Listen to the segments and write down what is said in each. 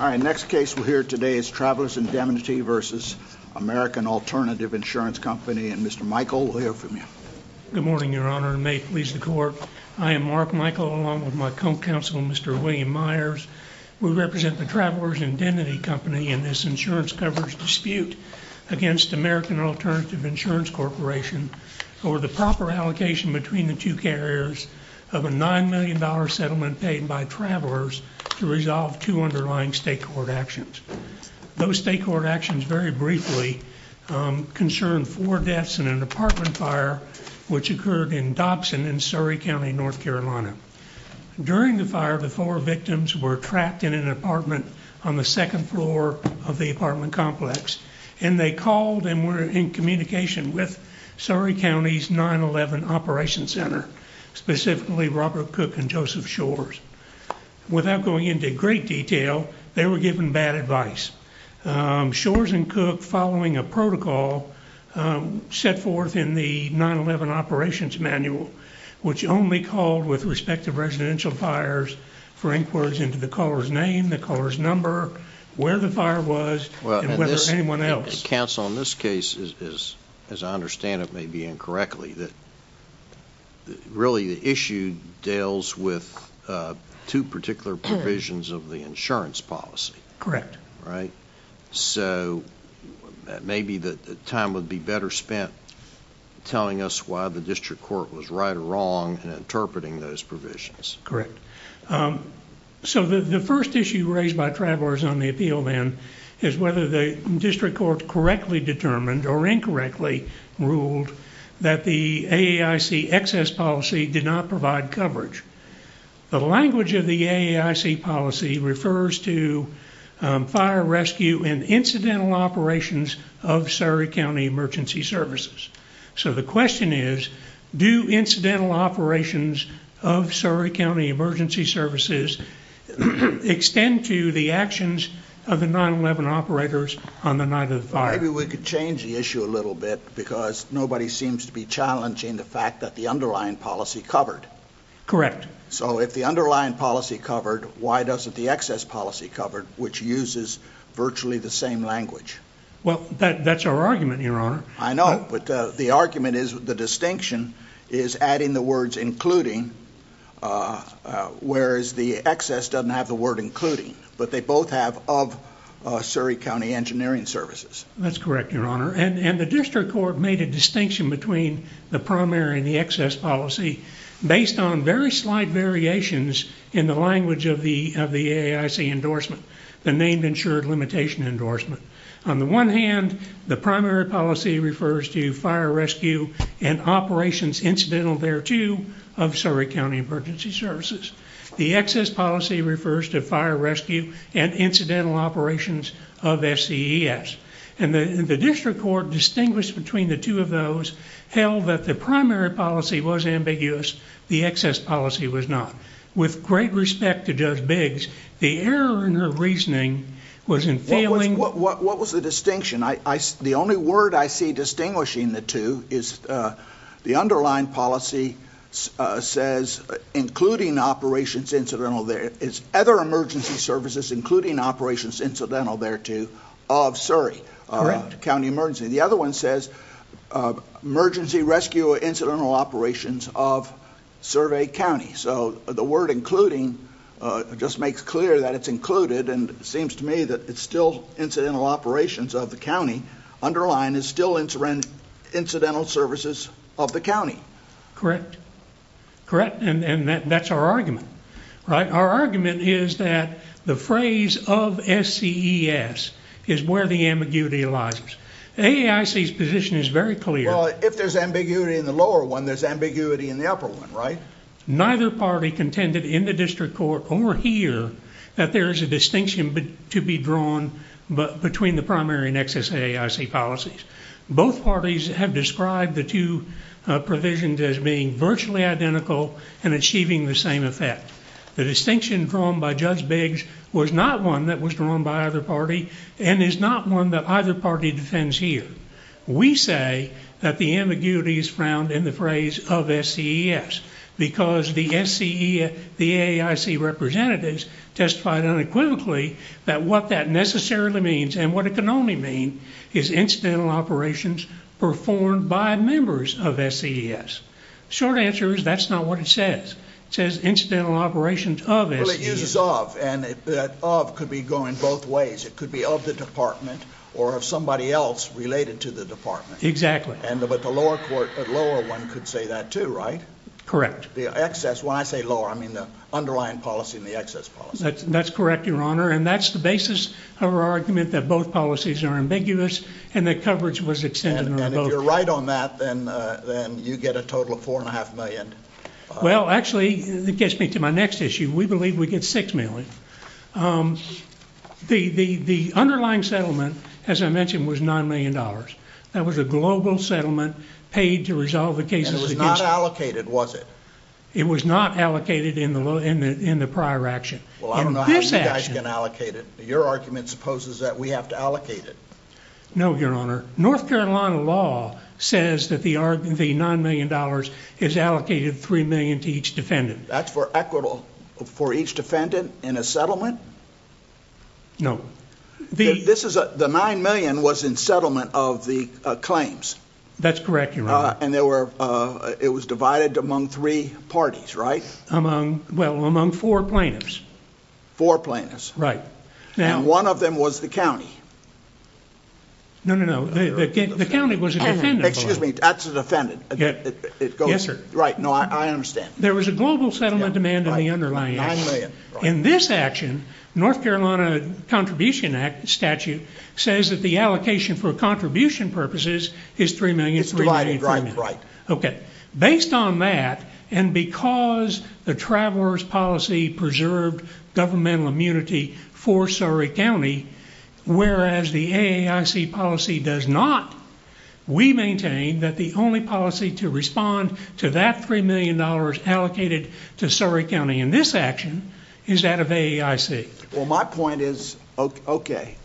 All right, next case we'll hear today is Travelers Indemnity versus American Alternative Insurance Company, and Mr. Michael, we'll hear from you. Good morning, your honor, and may it please the court. I am Mark Michael, along with my co-counsel, Mr. William Myers. We represent the Travelers Indemnity Company in this insurance coverage dispute against American Alternative Insurance Corporation over the proper allocation between the two carriers of a nine million dollar settlement paid by Travelers to resolve two underlying state court actions. Those state court actions, very briefly, concerned four deaths in an apartment fire which occurred in Dobson in Surry County, North Carolina. During the fire, the four victims were trapped in an apartment on the second floor of the apartment complex, and they called and were in communication with Surry County's 9-11 Operations Center, specifically Robert Cook and Joseph Shores. Without going into great detail, they were given bad advice. Shores and Cook, following a protocol set forth in the 9-11 Operations Manual, which only called with respect to residential fires for inquiries into the caller's name, the caller's where the fire was, and whether anyone else... Counsel, in this case, as I understand it may be incorrectly, that really the issue deals with two particular provisions of the insurance policy. Correct. Right? So, maybe the time would be better spent telling us why the district court was right or wrong and interpreting those provisions. Correct. So, the first issue raised by travelers on the appeal, then, is whether the district court correctly determined or incorrectly ruled that the AAIC excess policy did not provide coverage. The language of the AAIC policy refers to fire, rescue, and incidental operations of Surry County Emergency Services. So, the question is, do incidental operations of Surry County Emergency Services extend to the actions of the 9-11 operators on the night of the fire? Maybe we could change the issue a little bit because nobody seems to be challenging the fact that the underlying policy covered. Correct. So, if the underlying policy covered, why doesn't the excess policy covered, which uses virtually the same language? Well, that's our argument, your honor. I know, but the argument is the distinction is adding the words including, whereas the excess doesn't have the word including, but they both have of Surry County Engineering Services. That's correct, your honor, and the district court made a distinction between the primary and the excess policy based on very slight variations in the of the AAIC endorsement, the named insured limitation endorsement. On the one hand, the primary policy refers to fire, rescue, and operations incidental thereto of Surry County Emergency Services. The excess policy refers to fire, rescue, and incidental operations of SCES, and the district court distinguished between the two of those, held that the primary policy was the excess policy was not. With great respect to Judge Biggs, the error in her reasoning was in failing... What was the distinction? The only word I see distinguishing the two is the underlying policy says including operations incidental there is other emergency services including operations incidental thereto of Surry County Emergency. The other one says emergency rescue incidental operations of Surry County, so the word including just makes clear that it's included, and it seems to me that it's still incidental operations of the county. Underlying is still incidental services of the county. Correct, correct, and that's our argument, right? Our argument is that the phrase of SCES is where the ambiguity arises. AAIC's position is very clear. Well, if there's ambiguity in the lower one, there's ambiguity in the upper one, right? Neither party contended in the district court or here that there is a distinction to be drawn between the primary and excess AAIC policies. Both parties have described the two provisions as being virtually identical and achieving the same effect. The distinction drawn by Judge Biggs was one that was drawn by either party and is not one that either party defends here. We say that the ambiguity is found in the phrase of SCES because the SCE, the AAIC representatives testified unequivocally that what that necessarily means and what it can only mean is incidental operations performed by members of SCES. Short answer is that's not what it says. It says incidental operations of SCES. Well, it uses of and that of could be going both ways. It could be of the department or of somebody else related to the department. Exactly. But the lower one could say that too, right? Correct. The excess, when I say lower, I mean the underlying policy and the excess policy. That's correct, your honor, and that's the basis of our argument that both policies are ambiguous and that coverage was extended. And if you're right on that, then you get a total of four and a half million. Well, actually, it gets me to my next issue. We believe we get six million. The underlying settlement, as I mentioned, was nine million dollars. That was a global settlement paid to resolve the cases. It was not allocated, was it? It was not allocated in the prior action. Well, I don't know how you guys can allocate it. Your argument supposes that we have to allocate it. No, your honor. North Carolina law says that the nine million dollars is allocated three million to each defendant. That's for equitable for each defendant in a settlement? No. The nine million was in settlement of the claims. That's correct, your honor. And it was divided among three parties, right? Well, among four plaintiffs. Four plaintiffs. Right. And one of them was the county. No, no, no. The county was a defendant. That's a defendant. Yes, sir. Right. No, I understand. There was a global settlement demand in the underlying. In this action, North Carolina Contribution Act statute says that the allocation for contribution purposes is three million. It's divided, right? Right. Okay. Based on that, and because the traveler's policy preserved governmental immunity for Surry County, whereas the AAIC policy does not, we maintain that the only policy to respond to that three million dollars allocated to Surry County in this action is that of AAIC. Well, my point is, okay,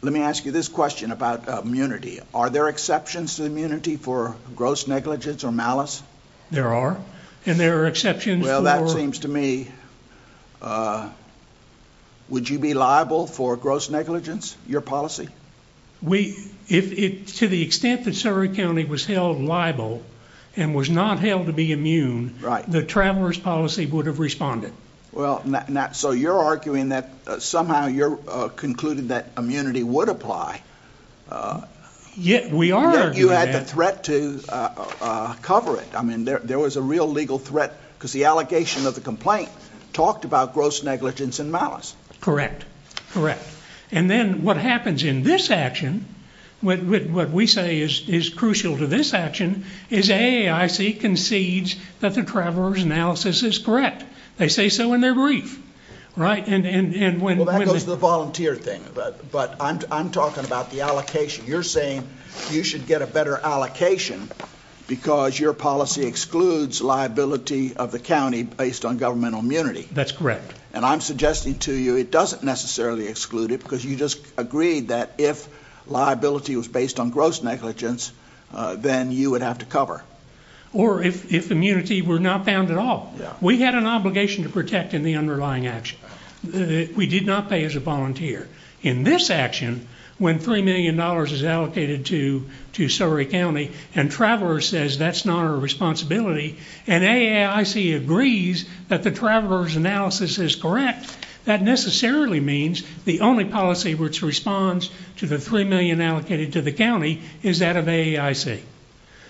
let me ask you this question about immunity. Are there exceptions to immunity for gross negligence or malice? There are, and there are exceptions. Well, that seems to me, uh, would you be liable for gross negligence, your policy? We, to the extent that Surry County was held liable and was not held to be immune, the traveler's policy would have responded. Well, so you're arguing that somehow you're concluding that immunity would apply. Yet we are. Yet you had the threat to cover it. I mean, there was a real legal threat because the allegation of the complaint talked about gross negligence and malice. Correct. Correct. And then what happens in this action, what we say is crucial to this action is AAIC concedes that the traveler's analysis is correct. They say so in their brief, right? And, and, and when, well, that goes to the volunteer thing, but I'm, I'm talking about the allocation. You're saying you should get a better allocation because your policy excludes liability of the County based on governmental immunity. That's correct. And I'm suggesting to you, it doesn't necessarily exclude it because you just agreed that if liability was based on gross negligence, uh, then you would have to cover. Or if, if immunity were not found at all, we had an obligation to protect in the underlying action. We did not pay as a volunteer in this action. When $3 million is allocated to, to Surry County and traveler says that's not our responsibility. And AAIC agrees that the traveler's analysis is correct. That necessarily means the only policy which responds to the $3 million allocated to the County is that of AAIC.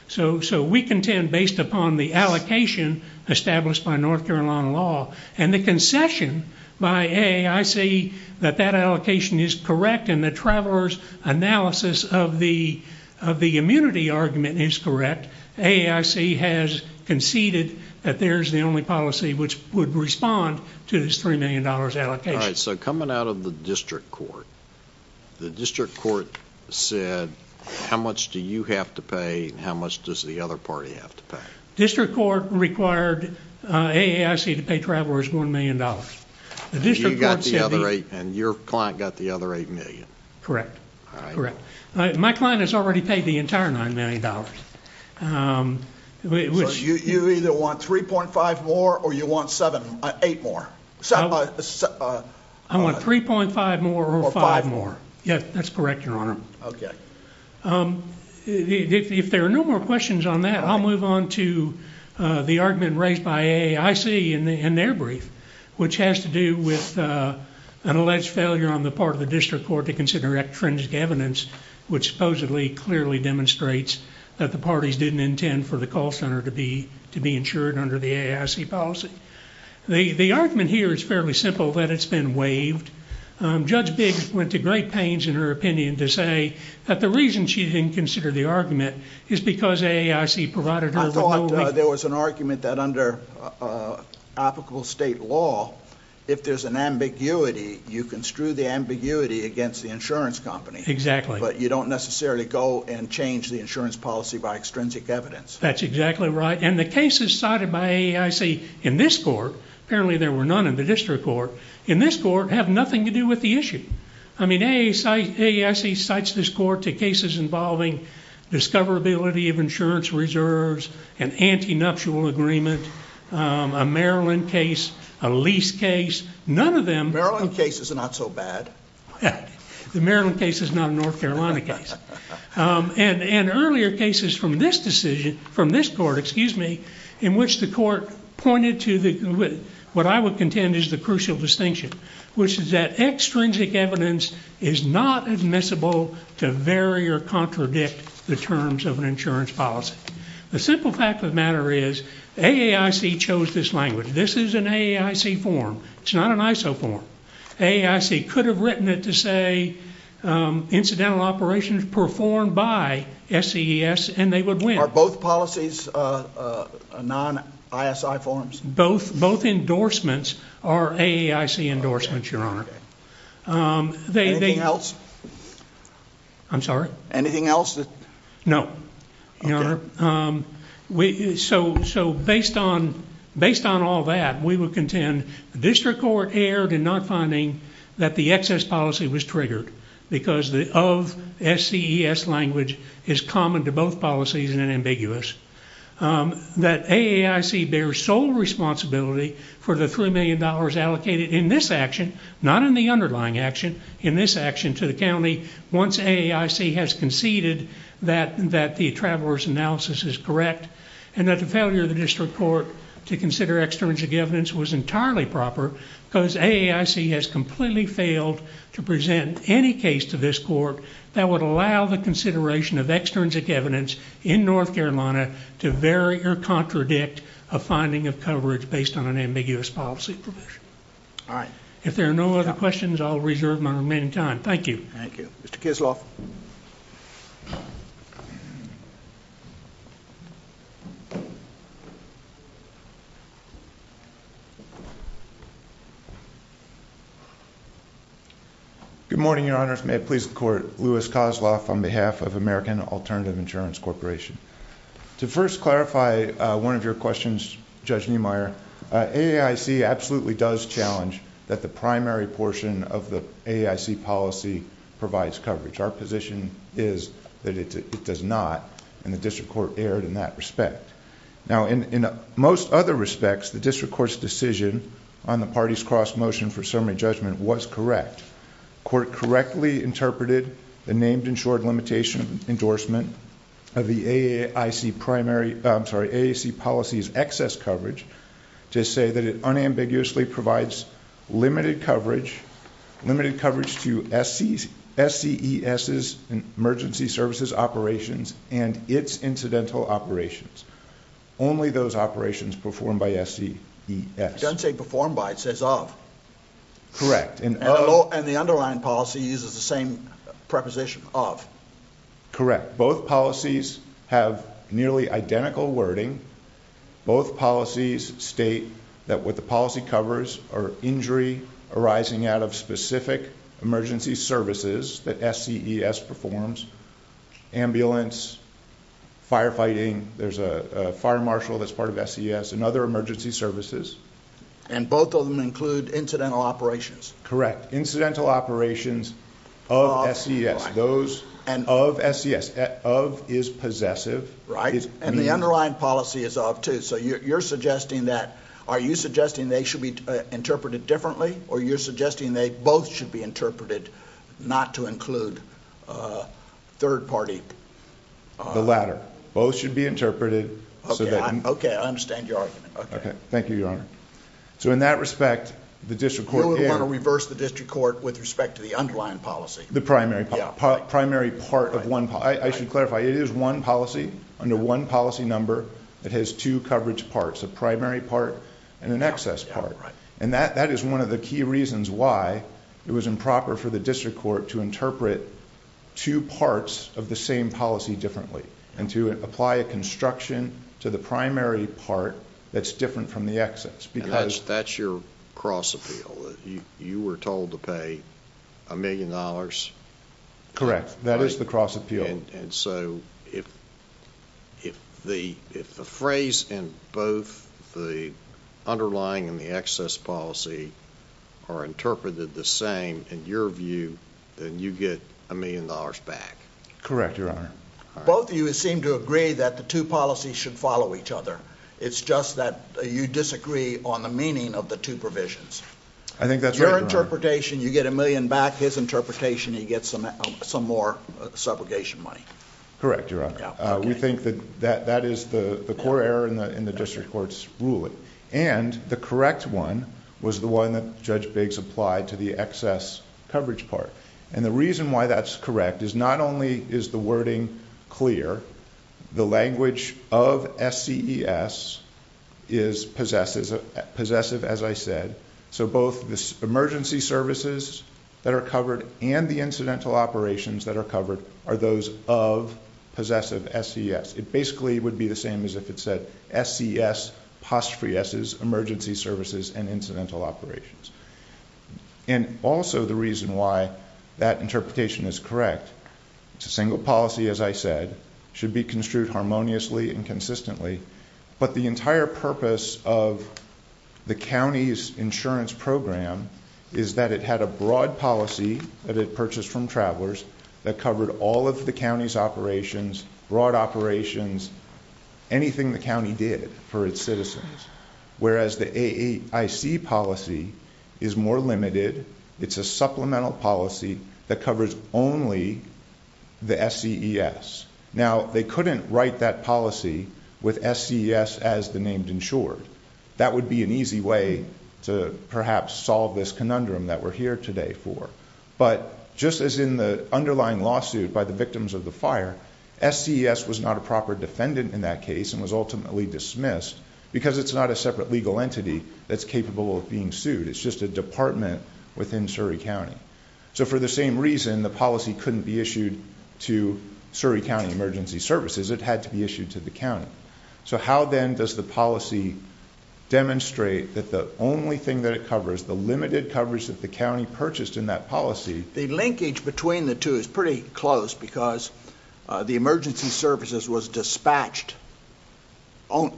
So, so we contend based upon the allocation established by North Carolina law and the concession by AAIC that that allocation is correct. And the traveler's analysis of the, of the immunity argument is correct. AAIC has conceded that there's the only policy which would respond to this $3 million allocation. So coming out of the district court, the district court said, how much do you have to pay? And how much does the other party have to pay? District court required AAIC to pay travelers $1 million. And your client got the other 8 million. Correct. Correct. My client has already paid the entire $9 million. So you, you either want 3.5 more or you want 7, 8 more? I want 3.5 more or 5 more. Yes, that's correct, your honor. Okay. If there are no more questions on that, I'll move on to the argument raised by AAIC in their brief, which has to do with an alleged failure on the part of the district court to consider extrinsic evidence, which supposedly clearly demonstrates that the parties didn't intend for the call center to be, to be insured under the AAIC policy. The, the argument here is fairly simple that it's been waived. Judge Biggs went to great pains in her opinion to say that the reason she didn't consider the argument is because AAIC provided her with- I thought there was an argument that under applicable state law, if there's an ambiguity, you construe the ambiguity against the insurance company. Exactly. But you don't necessarily go and change the insurance policy by extrinsic evidence. That's exactly right. And the cases cited by AAIC in this court, apparently there were none in the district court, in this court have nothing to do with the issue. I mean, AAIC cites this court to cases involving discoverability of insurance reserves and anti nuptial agreement, um, a Maryland case, a lease case, none of them- Maryland case is not so bad. The Maryland case is not a North Carolina case. Um, and, and earlier cases from this decision, from this court, excuse me, in which the court pointed to the, what I would contend is the crucial distinction, which is that extrinsic evidence is not admissible to vary or contradict the terms of an insurance policy. The simple fact of the matter is AAIC chose this language. This is an AAIC form. It's not an ISO form. AAIC could have written it to say, um, incidental operations performed by SCES and they would win. Are both policies, uh, uh, non ISI forms? Both, both endorsements are AAIC endorsements, your honor. Um, they- Anything else? I'm sorry? Anything else that- No, your honor. Um, we, so, so based on, based on all that, we would contend the district court erred in not finding that the excess policy was triggered because of SCES language is common to both policies and ambiguous. Um, that AAIC bears sole responsibility for the $3 million allocated in this action, not in the underlying action, in this action to the county. Once AAIC has conceded that the traveler's analysis is correct and that the failure of the district court to consider extrinsic evidence was entirely proper because AAIC has completely failed to present any case to this court that would allow the consideration of extrinsic evidence in North Carolina to vary or contradict a finding of coverage based on an ambiguous policy provision. All right. If there are no other questions, I'll reserve my remaining time. Thank you. Thank you. Mr. Kozloff. Good morning, your honor. If it may please the court, Louis Kozloff on behalf of American Alternative Insurance Corporation. To first clarify, uh, one of your questions, Judge Niemeyer, uh, AAIC absolutely does challenge that the primary portion of the AAIC policy provides coverage. Our position is that it does not and the district court erred in that respect. Now, in, in most other respects, the district court's decision on the party's cross motion for summary judgment was correct. Court correctly interpreted the named insured limitation endorsement of the AAIC primary, I'm sorry, AAIC policies, excess coverage to say that it unambiguously provides limited coverage, limited coverage to SCS, SCES and emergency services operations and its incidental operations. Only those operations performed by SCES. It doesn't say performed by, it says of. Correct. And the underlying policy uses the same of. Correct. Both policies have nearly identical wording. Both policies state that what the policy covers are injury arising out of specific emergency services that SCES performs. Ambulance, firefighting, there's a fire marshal that's part of SCES and other emergency services. And both of them include incidental operations. Correct. Incidental operations of SCS. Those of SCS. Of is possessive. Right. And the underlying policy is of too. So you're suggesting that, are you suggesting they should be interpreted differently or you're suggesting they both should be interpreted not to include a third party? The latter. Both should be interpreted. Okay. Okay. I understand your argument. Okay. Thank you, Your Honor. So in that respect, the district court... You would want to reverse the district court with respect to the underlying policy. The primary part of one... I should clarify, it is one policy under one policy number that has two coverage parts, a primary part and an excess part. And that is one of the key reasons why it was improper for the district court to interpret two parts of the same policy differently and to apply a construction to the primary part that's different from the excess. And that's your cross appeal. You were told to pay a million dollars. Correct. That is the cross appeal. And so if the phrase in both the underlying and the excess policy are interpreted the same in your view, then you get a million dollars back. Correct, Your Honor. Both of you seem to agree that the two policies should follow each other. It's just that you disagree on the meaning of the two provisions. I think that's right, Your Honor. Your interpretation, you get a million back. His interpretation, he gets some more subrogation money. Correct, Your Honor. We think that that is the core error in the district court's ruling. And the correct one was the one that Judge Biggs applied to the excess coverage part. And the is possessive, as I said. So both the emergency services that are covered and the incidental operations that are covered are those of possessive SES. It basically would be the same as if it said SES, emergency services and incidental operations. And also the reason why that interpretation is correct. It's a single policy, as I said, should be construed harmoniously and consistently. But the entire purpose of the county's insurance program is that it had a broad policy that it purchased from travelers that covered all of the county's operations, broad operations, anything the county did for its citizens. Whereas the AIC policy is more limited. It's a supplemental policy that covers only the SES. Now they couldn't write that policy with SES as the named insured. That would be an easy way to perhaps solve this conundrum that we're here today for. But just as in the underlying lawsuit by the victims of the fire, SES was not a proper defendant in that case and was ultimately dismissed because it's not a separate legal entity that's capable of being sued. It's just a department within Surrey County. So for the same reason the policy couldn't be issued to Surrey County emergency services. It had to be issued to the county. So how then does the policy demonstrate that the only thing that it covers, the limited coverage that the county purchased in that policy. The linkage between the two is pretty close because the emergency services was dispatched,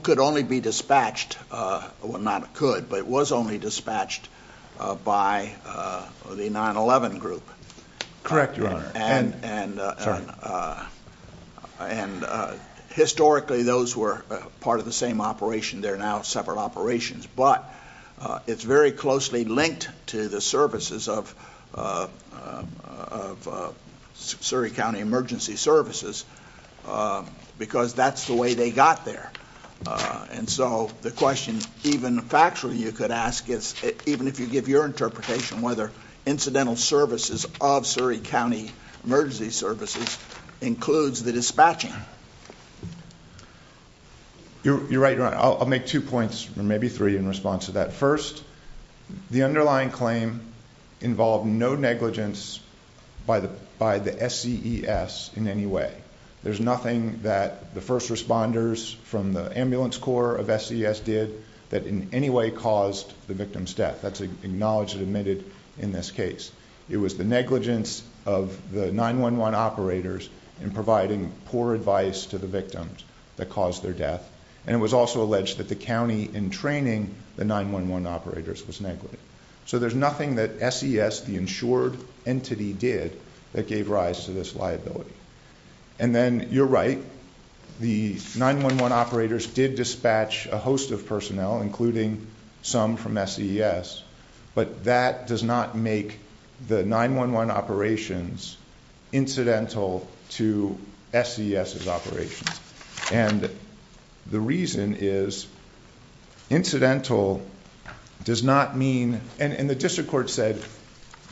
could only be dispatched, well not could, but it was only dispatched by the 9-11 group. Correct, your honor. And historically those were part of the same operation. They're now separate operations. But it's very closely linked to the services of Surrey County emergency services because that's the way they got there. And so the question even factually you could ask is even if you give your interpretation whether incidental services of Surrey County emergency services includes the dispatching. You're right, your honor. I'll give you three in response to that. First, the underlying claim involved no negligence by the SCES in any way. There's nothing that the first responders from the ambulance corps of SCES did that in any way caused the victim's death. That's acknowledged and admitted in this case. It was the negligence of the 9-11 operators in providing poor advice to the victims that caused their death. And it was also alleged that the county in training the 9-11 operators was negligent. So there's nothing that SCES, the insured entity, did that gave rise to this liability. And then you're right. The 9-11 operators did dispatch a host of personnel, including some from SCES, but that does not make the 9-11 operations incidental to SCES's operations. And the reason is incidental does not mean, and the district court said,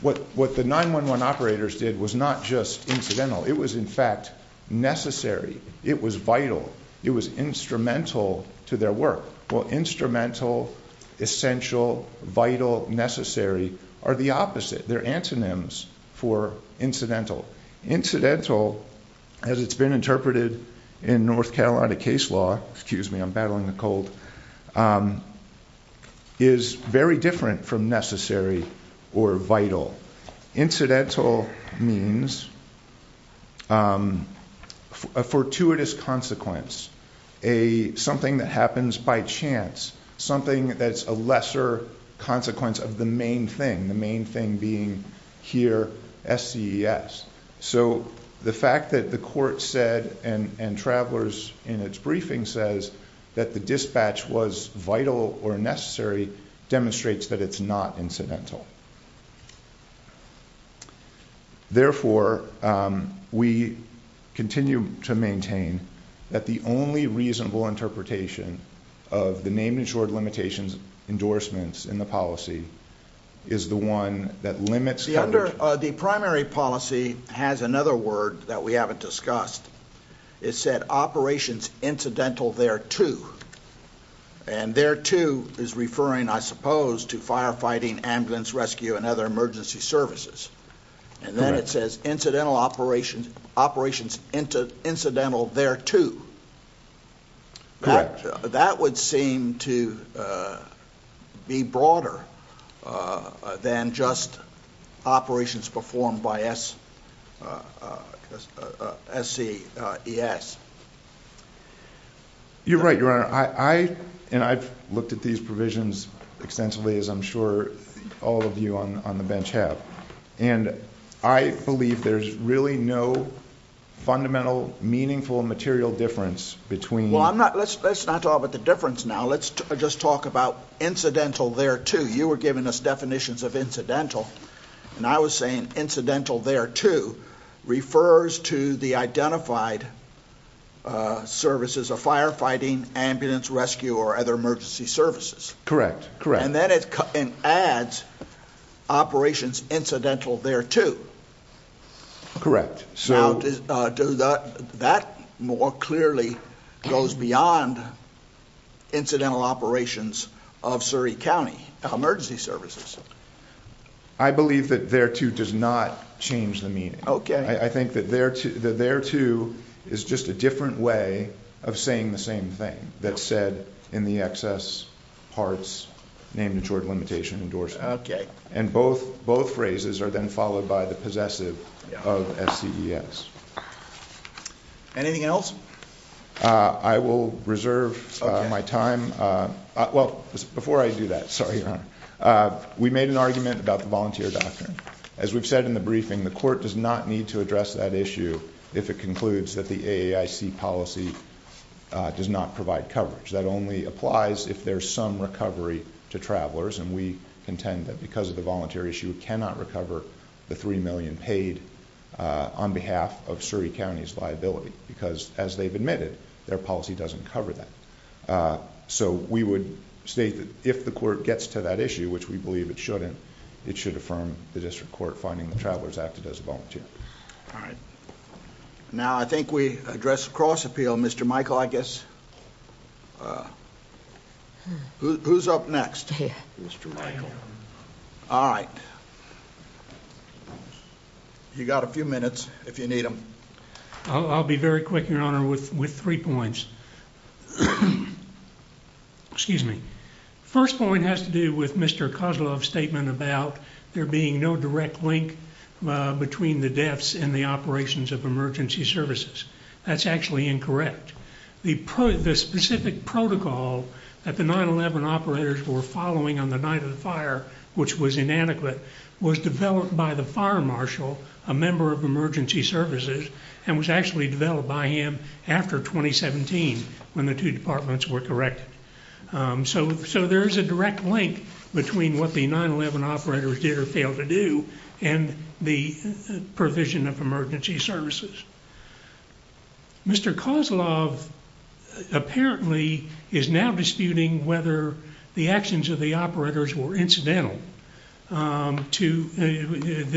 what the 9-11 operators did was not just incidental. It was in fact necessary. It was vital. It was instrumental to their work. Well, instrumental, essential, vital, necessary are the opposite. They're antonyms for incidental. Incidental, as it's been interpreted in North Carolina case law, excuse me, I'm battling a cold, is very different from necessary or vital. Incidental means a fortuitous consequence, something that happens by chance, something that's a lesser consequence of the main thing, the main thing being here SCES. So the fact that the court said and travelers in its briefing says that the dispatch was vital or necessary demonstrates that it's not incidental. Therefore, we continue to maintain that the only reasonable interpretation of the name and short limitations endorsements in the policy is the one that limits- The primary policy has another word that we haven't discussed. It said operations incidental thereto. And thereto is referring, I suppose, to firefighting, ambulance rescue, and other emergency services. And then it says incidental operations, operations incidental thereto. That would seem to be broader than just operations performed by SCES. You're right, Your Honor. And I've looked at these provisions extensively, as I'm sure all of you on the bench have. And I believe there's really no fundamental, meaningful, and material difference between- Well, let's not talk about the difference now. Let's just talk about incidental thereto. You were giving us definitions of incidental. And I was saying incidental thereto refers to the identified services of firefighting, ambulance rescue, or other emergency services. Correct. Correct. And then it adds operations incidental thereto. Correct. That more clearly goes beyond incidental operations of Surrey County emergency services. I believe that thereto does not change the meaning. I think that thereto is just a different way of saying the same thing that's said in the excess parts, name, maturity, limitation, endorsement. And both phrases are then followed by the possessive of SCES. Anything else? I will reserve my time. Well, before I do that, sorry, Your Honor, we made an argument about the volunteer doctrine. As we've said in the briefing, the court does not need to address that issue if it concludes that the AAIC policy does not provide coverage. That only applies if there's some recovery to travelers. And we contend that because of the voluntary issue, it cannot recover the $3 million paid on behalf of Surrey County's liability. Because as they've admitted, their policy doesn't cover that. So we would state that if the court gets to that issue, which we believe it shouldn't, it should affirm the district court finding the travelers acted as a volunteer. All right. Now, I think we address cross appeal, Mr. Michael, I guess. Who's up next? Mr. Michael. All right. All right. You got a few minutes if you need them. I'll be very quick, Your Honor, with three points. Excuse me. First point has to do with Mr. Kozloff's statement about there being no direct link between the deaths and the operations of emergency services. That's actually incorrect. The specific protocol that the 9-11 operators were following on the night of the fire, which was inadequate, was developed by the fire marshal, a member of emergency services, and was actually developed by him after 2017 when the two departments were corrected. So there is a direct link between what the 9-11 operators did or failed to do and the provision of emergency services. Mr. Kozloff apparently is now disputing whether the actions of the operators were incidental. The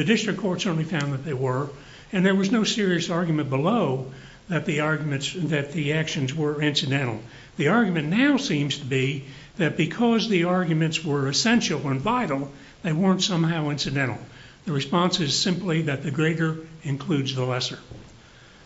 district court certainly found that they were, and there was no serious argument below that the actions were incidental. The argument now seems to be that because the arguments were essential and vital, they weren't somehow incidental. The response is simply that the greater includes the lesser.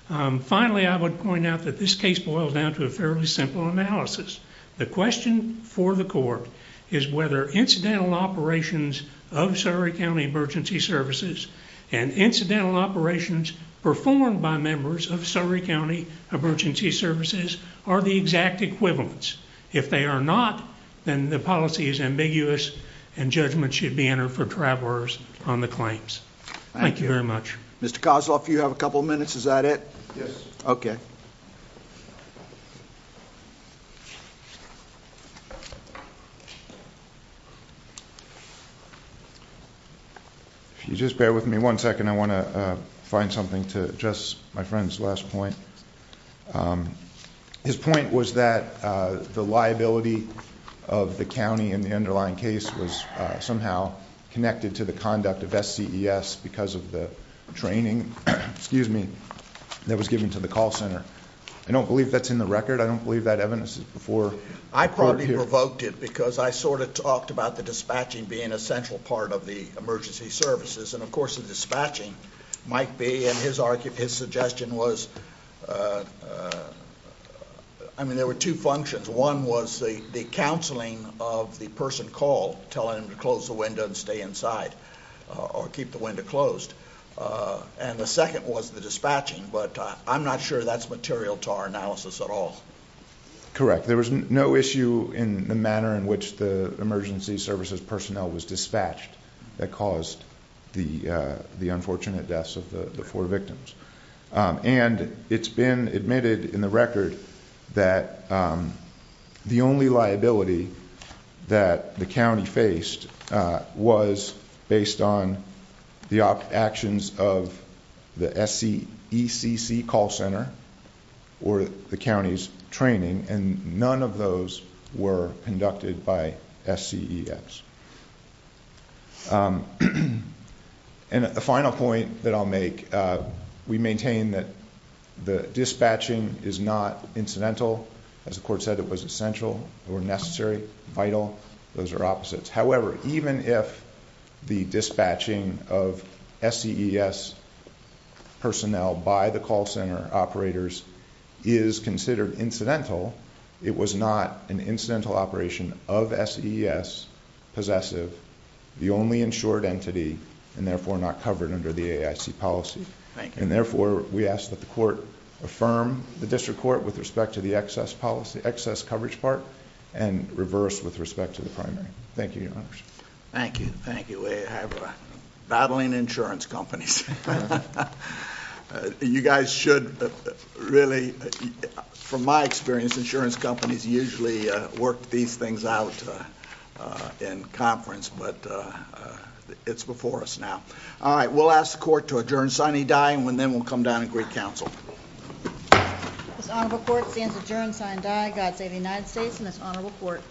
Finally, I would point out that this case boils down to a fairly simple analysis. The question for the court is whether incidental operations of Surry County Emergency Services and incidental operations performed by members of Surry County Emergency Services are the exact equivalents. If they are not, then the policy is ambiguous and judgment should be entered for travelers on the claims. Thank you very much. Mr. Kozloff, you have a couple minutes. Is that it? Yes. Okay. If you just bear with me one second, I want to find something to address my friend's last point. His point was that the liability of the county in the underlying case was somehow connected to conduct of SCES because of the training that was given to the call center. I don't believe that's in the record. I don't believe that evidence is before. I probably provoked it because I sort of talked about the dispatching being a central part of the emergency services, and of course, the dispatching might be, and his suggestion was, I mean, there were two functions. One was the counseling of the person called, telling him to close the window and stay inside or keep the window closed. And the second was the dispatching, but I'm not sure that's material to our analysis at all. Correct. There was no issue in the manner in which the emergency services personnel was dispatched that caused the unfortunate deaths of the four victims. And it's been admitted in the record that the only liability that the county faced was based on the actions of the SECC call center or the county's training, and none of those were conducted by SCES. And the final point that I'll make, we maintain that the dispatching is not incidental. As the court said, it was essential or necessary, vital. Those are opposites. However, even if the dispatching of SCES personnel by the call center operators is considered incidental, it was not an incidental operation of SCES, possessive, the only insured entity, and therefore not covered under the AIC policy. And therefore, we ask that the court affirm the district court with respect to the excess policy, excess coverage part, and reverse with respect to the primary. Thank you, Your Honors. Thank you. Thank you. We have battling insurance companies. Thank you. You guys should really, from my experience, insurance companies usually work these things out in conference, but it's before us now. All right. We'll ask the court to adjourn, sign, and die, and then we'll come down and greet counsel. This honorable court stands adjourned, sign, and die. God save the United States and this honorable court.